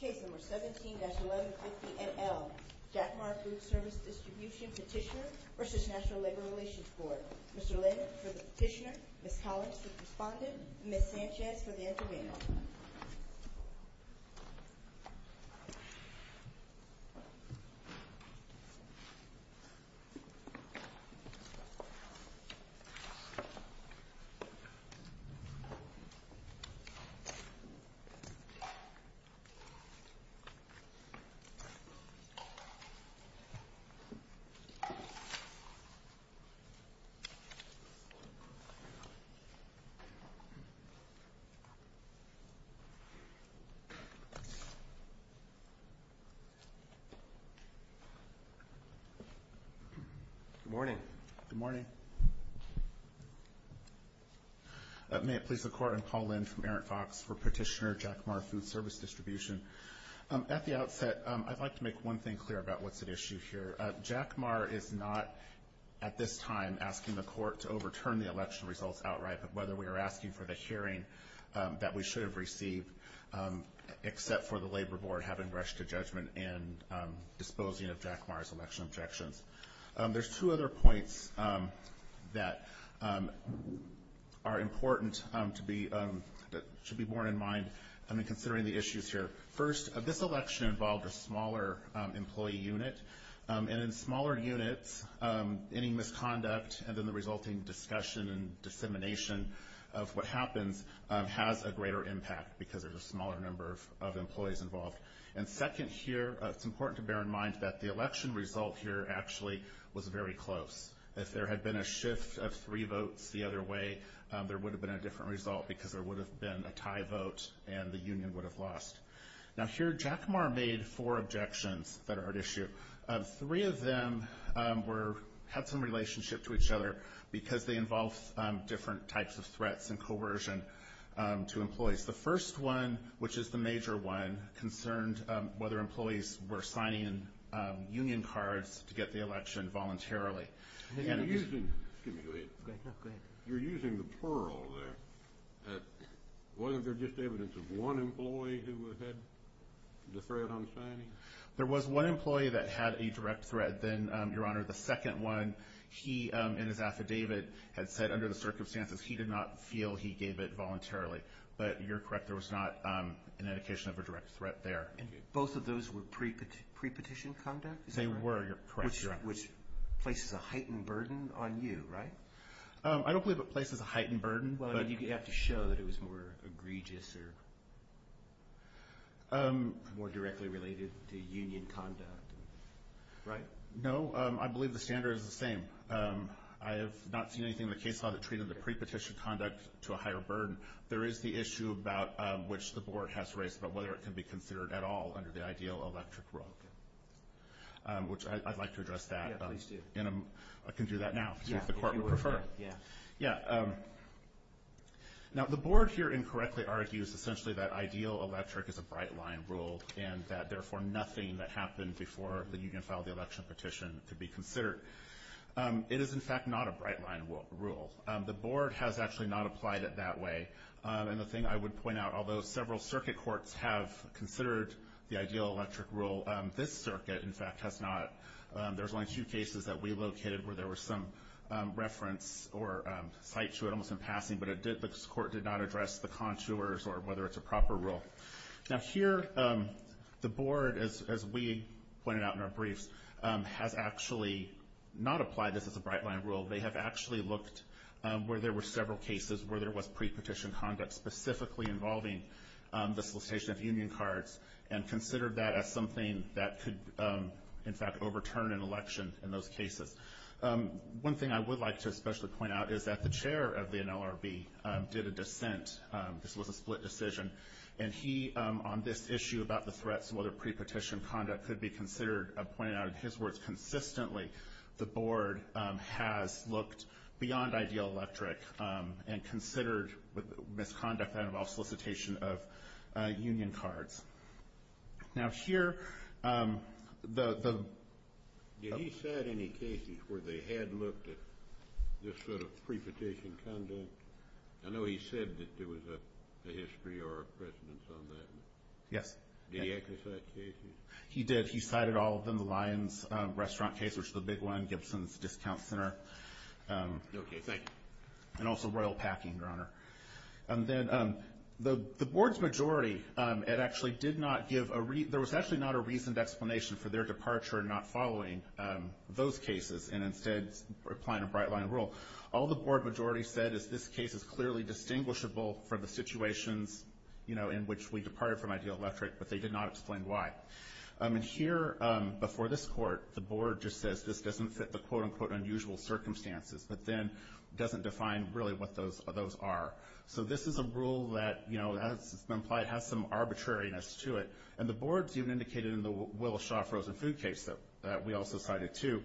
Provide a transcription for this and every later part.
Case No. 17-1150NL, Jackmar Foodservice Distribution Petitioner v. National Labor Relations Board Mr. Lynn for the petitioner, Ms. Collins for the respondent, and Ms. Sanchez for the intervener Good morning. Good morning. May it please the Court, I'm Paul Lynn from Errant Fox for Petitioner, Jackmar Foodservice Distribution. At the outset, I'd like to make one thing clear about what's at issue here. Jackmar is not, at this time, asking the Court to overturn the election results outright, but rather we are asking for the hearing that we should have received, except for the Labor Board having rushed to judgment and disposing of Jackmar's election objections. There's two other points that are important to be borne in mind when considering the issues here. First, this election involved a smaller employee unit, and in smaller units, any misconduct and then the resulting discussion and dissemination of what happens has a greater impact because there's a smaller number of employees involved. And second here, it's important to bear in mind that the election result here actually was very close. If there had been a shift of three votes the other way, there would have been a different result because there would have been a tie vote and the union would have lost. Now here, Jackmar made four objections that are at issue. Three of them had some relationship to each other because they involved different types of threats and coercion to employees. The first one, which is the major one, concerned whether employees were signing union cards to get the election voluntarily. You're using the plural there. Wasn't there just evidence of one employee who had the threat on signing? There was one employee that had a direct threat. Then, Your Honor, the second one, he in his affidavit had said under the circumstances he did not feel he gave it voluntarily. But you're correct. There was not an indication of a direct threat there. Both of those were pre-petition conduct? They were. You're correct. Which places a heightened burden on you, right? I don't believe it places a heightened burden. Well, you'd have to show that it was more egregious or more directly related to union conduct. Right? No. I believe the standard is the same. I have not seen anything in the case law that treated the pre-petition conduct to a higher burden. There is the issue about which the board has raised about whether it can be considered at all under the ideal electric rule, which I'd like to address that. Yeah, please do. I can do that now. Yeah. If the court would prefer. Yeah. Yeah. Now, the board here incorrectly argues essentially that ideal electric is a bright-line rule and that therefore nothing that happened before the union filed the election petition could be considered. It is, in fact, not a bright-line rule. The board has actually not applied it that way. And the thing I would point out, although several circuit courts have considered the ideal electric rule, this circuit, in fact, has not. There's only two cases that we located where there was some reference or cite to it almost in passing, but the court did not address the contours or whether it's a proper rule. Now, here, the board, as we pointed out in our briefs, has actually not applied this as a bright-line rule. They have actually looked where there were several cases where there was pre-petition conduct specifically involving the solicitation of union cards and considered that as something that could, in fact, overturn an election in those cases. One thing I would like to especially point out is that the chair of the NLRB did a dissent. This was a split decision. And he, on this issue about the threats and whether pre-petition conduct could be considered, I'm pointing out in his words, consistently, the board has looked beyond ideal electric and considered misconduct that involved solicitation of union cards. Now here, the... Did he cite any cases where they had looked at this sort of pre-petition conduct? I know he said that there was a history or a precedence on that. Yes. Did he exercise cases? He did. He cited all of them. The Lyons restaurant case, which is a big one, Gibson's Discount Center. Okay. Thank you. And also Royal Packing, Your Honor. And then the board's majority, it actually did not give a... There was actually not a reasoned explanation for their departure and not following those cases and instead applying a bright-line rule. All the board majority said is this case is clearly distinguishable from the situations, you know, in which we departed from ideal electric, but they did not explain why. And here, before this court, the board just says this doesn't fit the quote-unquote unusual circumstances, but then doesn't define really what those are. So this is a rule that, you know, as it's been implied, has some arbitrariness to it. And the board's even indicated in the Willis-Shaw frozen food case that we also cited too,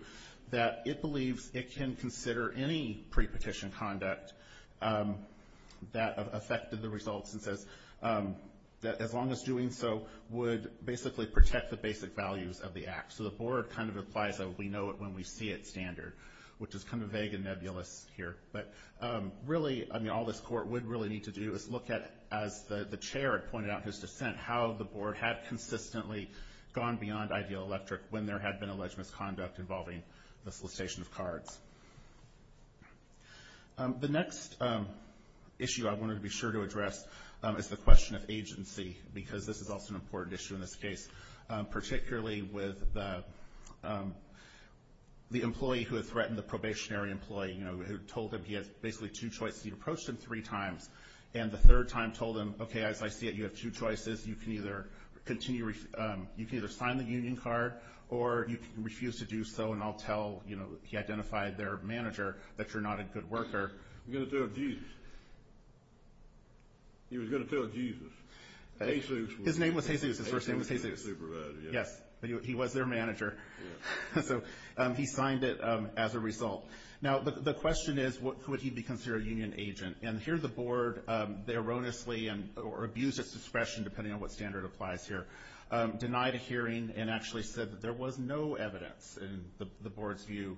that it believes it can consider any pre-petition conduct that affected the results and says that as long as doing so would basically protect the basic values of the act. So the board kind of applies a we-know-it-when-we-see-it standard, which is kind of vague and nebulous here. But really, I mean, all this court would really need to do is look at, as the chair had pointed out in his dissent, how the board had consistently gone beyond ideal electric when there had been alleged misconduct involving the solicitation of cards. The next issue I wanted to be sure to address is the question of agency, because this is also an important issue in this case, particularly with the employee who had threatened the probationary employee, you know, who told him he had basically two choices. He approached him three times, and the third time told him, okay, as I see it, you have two choices. You can either continue, you can either sign the union card, or you can refuse to do so, and I'll tell, you know, he identified their manager that you're not a good worker. He was going to tell Jesus. He was going to tell Jesus. Jesus. His name was Jesus. His first name was Jesus. Supervisor. Yes. He was their manager. So he signed it as a result. Now, the question is, would he be considered a union agent? And here the board, they erroneously, or abused its discretion, depending on what standard applies here, denied a hearing and actually said that there was no evidence in the board's view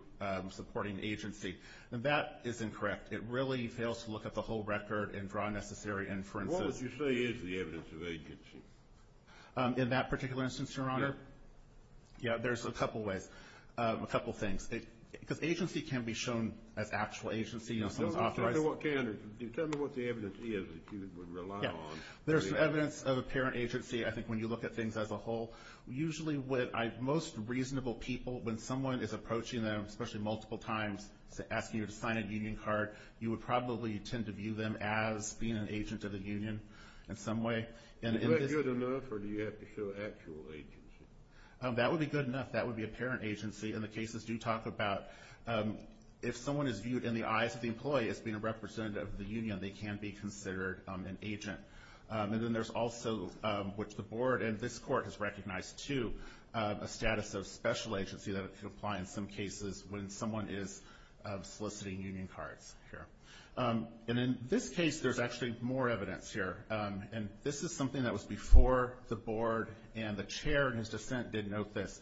supporting agency, and that is incorrect. It really fails to look at the whole record and draw necessary inferences. What would you say is the evidence of agency? In that particular instance, Your Honor? Yeah. Yeah, there's a couple ways, a couple things. Because agency can be shown as actual agency. Tell me what the evidence is that you would rely on. There's some evidence of apparent agency, I think, when you look at things as a whole. Usually what most reasonable people, when someone is approaching them, especially multiple times, asking you to sign a union card, you would probably tend to view them as being an agent of the union in some way. Is that good enough, or do you have to show actual agency? That would be good enough. That would be apparent agency. And the cases do talk about if someone is viewed in the eyes of the employee as being a representative of the union, they can be considered an agent. And then there's also, which the board and this court has recognized, too, a status of special agency that could apply in some cases when someone is soliciting union cards here. And in this case, there's actually more evidence here. And this is something that was before the board, and the chair in his dissent did note this,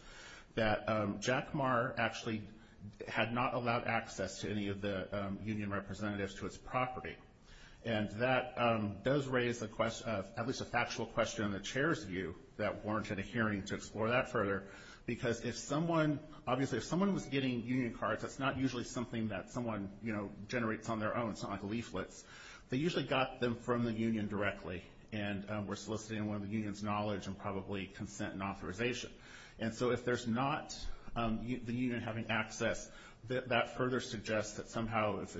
that Jack Maher actually had not allowed access to any of the union representatives to his property. And that does raise at least a factual question in the chair's view that warranted a hearing to explore that further, because if someone was getting union cards, that's not usually something that someone generates on their own. It's not like leaflets. They usually got them from the union directly and were soliciting one of the union's knowledge and probably consent and authorization. And so if there's not the union having access, that further suggests that somehow if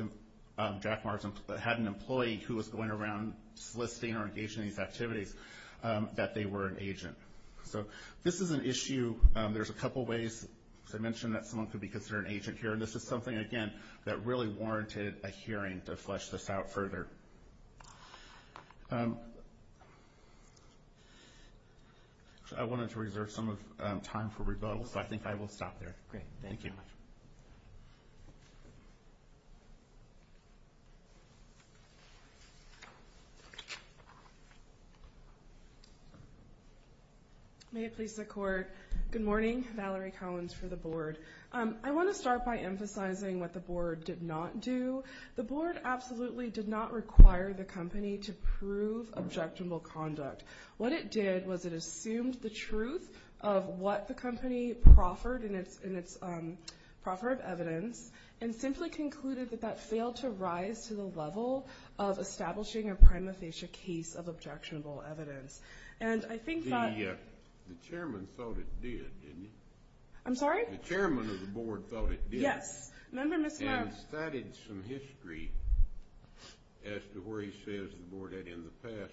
Jack Maher had an employee who was going around soliciting or engaging in these activities, that they were an agent. So this is an issue. There's a couple ways, as I mentioned, that someone could be considered an agent here. And this is something, again, that really warranted a hearing to flesh this out further. I wanted to reserve some time for rebuttals, so I think I will stop there. Thank you. May it please the Court. Good morning. Valerie Collins for the board. I want to start by emphasizing what the board did not do. The board absolutely did not require the company to prove objectionable conduct. What it did was it assumed the truth of what the company proffered in its proffered evidence and simply concluded that that failed to rise to the level of establishing a prima facie case of objectionable evidence. And I think that — The chairman thought it did, didn't he? I'm sorry? The chairman of the board thought it did. Yes. And cited some history as to where he says the board had in the past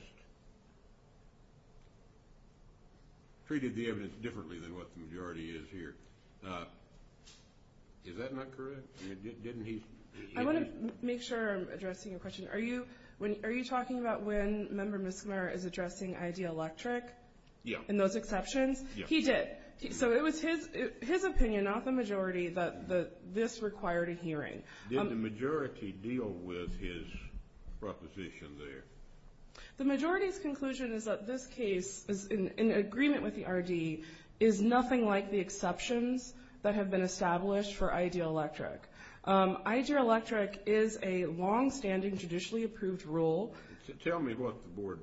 treated the evidence differently than what the majority is here. Is that not correct? Didn't he? I want to make sure I'm addressing your question. Are you talking about when Member Mismar is addressing Ideal Electric? Yes. And those exceptions? Yes. He did. So it was his opinion, not the majority, that this required a hearing. Did the majority deal with his proposition there? The majority's conclusion is that this case, in agreement with the RD, is nothing like the exceptions that have been established for Ideal Electric. Ideal Electric is a longstanding, judicially approved rule. Tell me what the board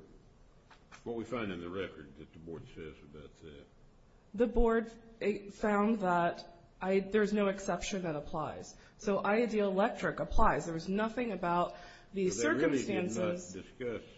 — what we find in the record that the board says about that. The board found that there's no exception that applies. So Ideal Electric applies. There was nothing about the circumstances — But they really did not discuss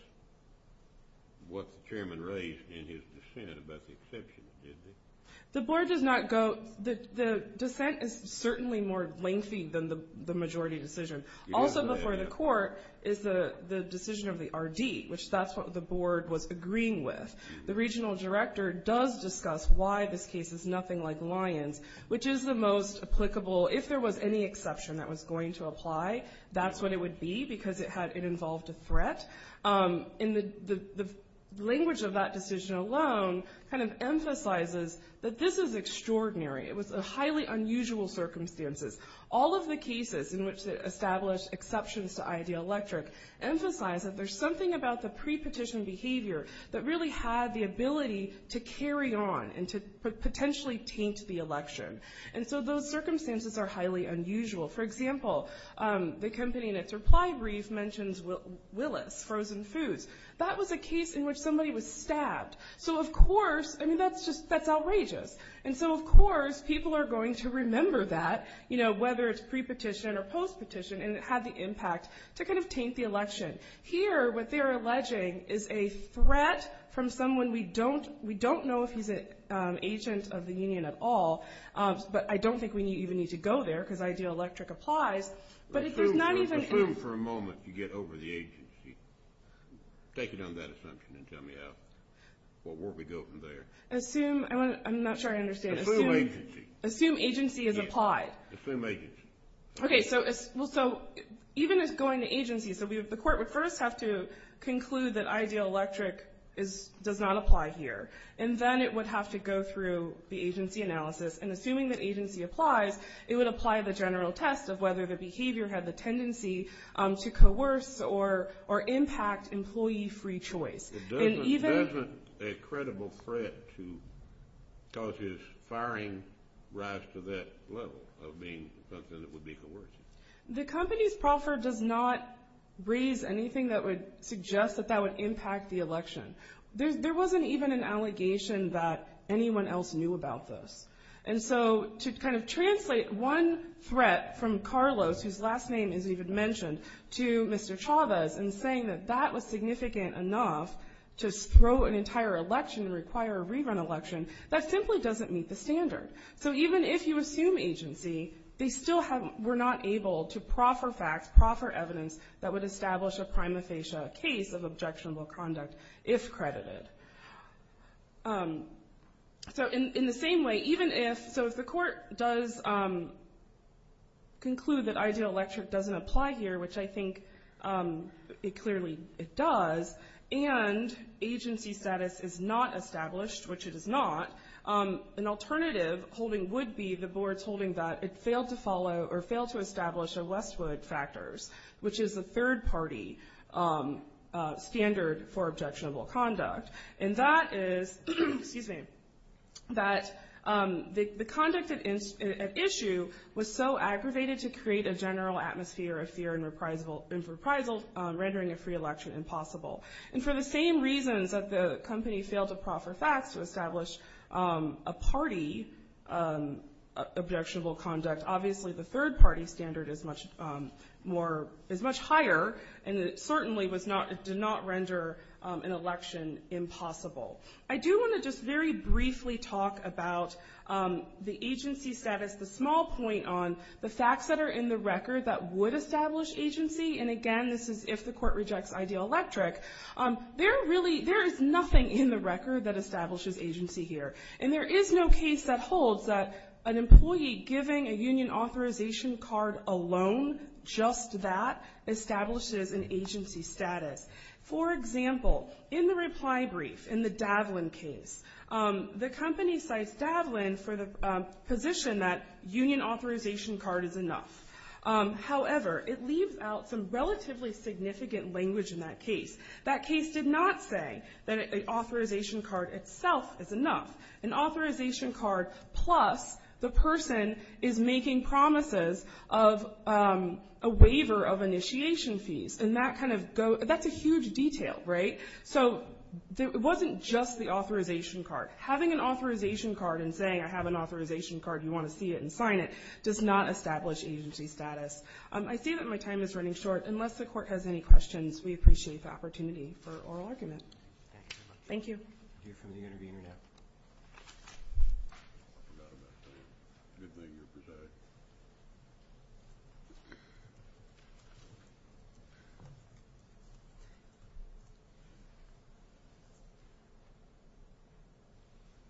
what the chairman raised in his dissent about the exceptions, did they? The board does not go — the dissent is certainly more lengthy than the majority decision. Also before the court is the decision of the RD, which that's what the board was agreeing with. The regional director does discuss why this case is nothing like Lyon's, which is the most applicable — if there was any exception that was going to apply, that's what it would be, because it involved a threat. And the language of that decision alone kind of emphasizes that this is extraordinary. It was highly unusual circumstances. All of the cases in which it established exceptions to Ideal Electric emphasize that there's something about the pre-petition behavior that really had the ability to carry on and to potentially taint the election. And so those circumstances are highly unusual. For example, the company in its reply brief mentions Willis, frozen foods. That was a case in which somebody was stabbed. So, of course, I mean, that's just — that's outrageous. And so, of course, people are going to remember that, you know, whether it's pre-petition or post-petition, and it had the impact to kind of taint the election. Here, what they're alleging is a threat from someone we don't know if he's an agent of the union at all. But I don't think we even need to go there, because Ideal Electric applies. But if there's not even — Assume for a moment you get over the agency. Take it on that assumption and tell me what were we doing there. Assume — I'm not sure I understand. Assume agency. Assume agency is applied. Assume agency. Okay. So even if going to agency — so the court would first have to conclude that Ideal Electric does not apply here, and then it would have to go through the agency analysis. And assuming that agency applies, it would apply the general test of whether the behavior had the tendency to coerce or impact employee free choice. And even — Isn't it a credible threat to cause his firing rise to that level of being something that would be coercive? The company's proffer does not raise anything that would suggest that that would impact the election. There wasn't even an allegation that anyone else knew about this. And so to kind of translate one threat from Carlos, whose last name is even mentioned, to Mr. Chavez, and saying that that was significant enough to throw an entire election and require a rerun election, that simply doesn't meet the standard. So even if you assume agency, they still were not able to proffer facts, proffer evidence that would establish a prima facie case of objectionable conduct if credited. So in the same way, even if — so if the court does conclude that Ideal Electric doesn't apply here, which I think it clearly does, and agency status is not established, which it is not, an alternative holding would be the board's holding that it failed to follow or failed to establish a Westwood factors, which is a third party standard for objectionable conduct. And that is — excuse me — that the conduct at issue was so aggravated to create a general atmosphere of fear and reprisal, rendering a free election impossible. And for the same reasons that the company failed to proffer facts to establish a party of objectionable conduct, obviously the third party standard is much more — is much higher, and it certainly was not — did not render an election impossible. I do want to just very briefly talk about the agency status, the small point on the facts that are in the record that would establish agency. And again, this is if the court rejects Ideal Electric. There really — there is nothing in the record that establishes agency here. And there is no case that holds that an employee giving a union authorization card alone, just that, establishes an agency status. For example, in the reply brief, in the Davlin case, the company cites Davlin for the position that union authorization card is enough. However, it leaves out some relatively significant language in that case. That case did not say that an authorization card itself is enough. An authorization card plus the person is making promises of a waiver of initiation fees. And that kind of goes — that's a huge detail, right? So it wasn't just the authorization card. Having an authorization card and saying, I have an authorization card, you want to see it and sign it, does not establish agency status. I see that my time is running short. Unless the court has any questions, we appreciate the opportunity for oral argument. Thank you.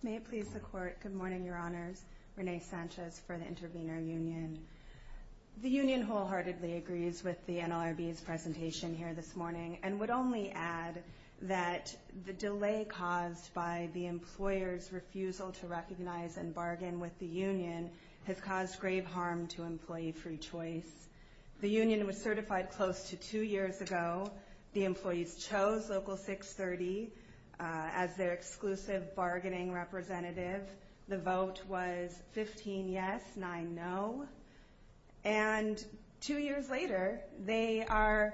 May it please the Court. Good morning, Your Honors. Renee Sanchez for the Intervenor Union. The union wholeheartedly agrees with the NLRB's presentation here this morning and would only add that the delay caused by the employer's refusal to recognize and bargain with the union has caused grave harm to employee free choice. The union was certified close to two years ago. The employees chose Local 630 as their exclusive bargaining representative. The vote was 15 yes, 9 no. And two years later, they are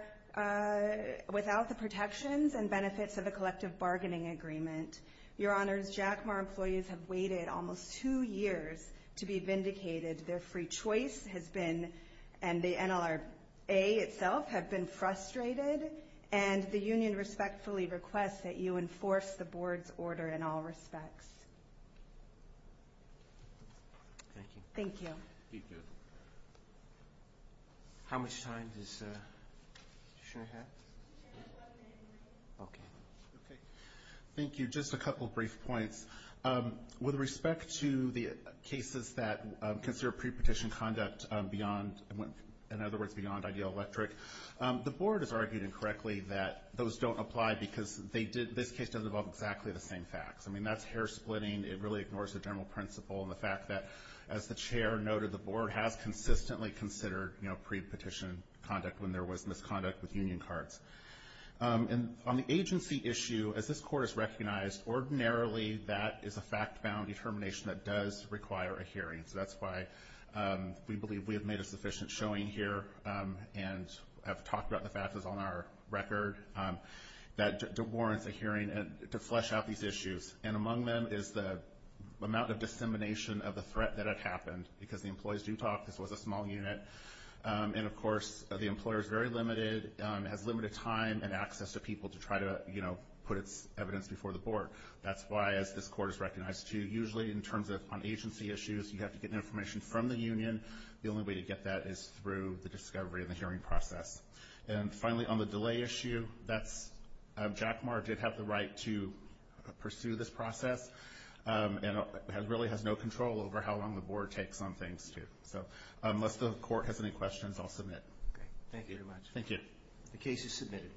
without the protections and benefits of a collective bargaining agreement. Your Honors, Jack Ma employees have waited almost two years to be vindicated. Their free choice has been — and the NLRB itself — have been frustrated. And the union respectfully requests that you enforce the board's order in all respects. Thank you. Thank you. Just a couple brief points. With respect to the cases that consider pre-petition conduct beyond, in other words, beyond Ideal Electric, the board has argued incorrectly that those don't apply because this case doesn't involve exactly the same facts. I mean, that's hair-splitting. It really ignores the general principle and the fact that, as the chair noted, the board has consistently considered pre-petition conduct when there was misconduct with union cards. And on the agency issue, as this court has recognized, ordinarily that is a fact-bound determination that does require a hearing. So that's why we believe we have made a sufficient showing here and have talked about the fact that's on our record that it warrants a hearing to flesh out these issues. And among them is the amount of dissemination of the threat that had happened. Because the employees do talk, this was a small unit. And, of course, the employer is very limited, has limited time and access to people to try to, you know, put its evidence before the board. That's why, as this court has recognized, too, usually in terms of on agency issues, you have to get information from the union. The only way to get that is through the discovery of the hearing process. And finally, on the delay issue, that's – Jack Maher did have the right to pursue this process and really has no control over how long the board takes on things, too. So unless the court has any questions, I'll submit. Thank you very much. Thank you. The case is submitted.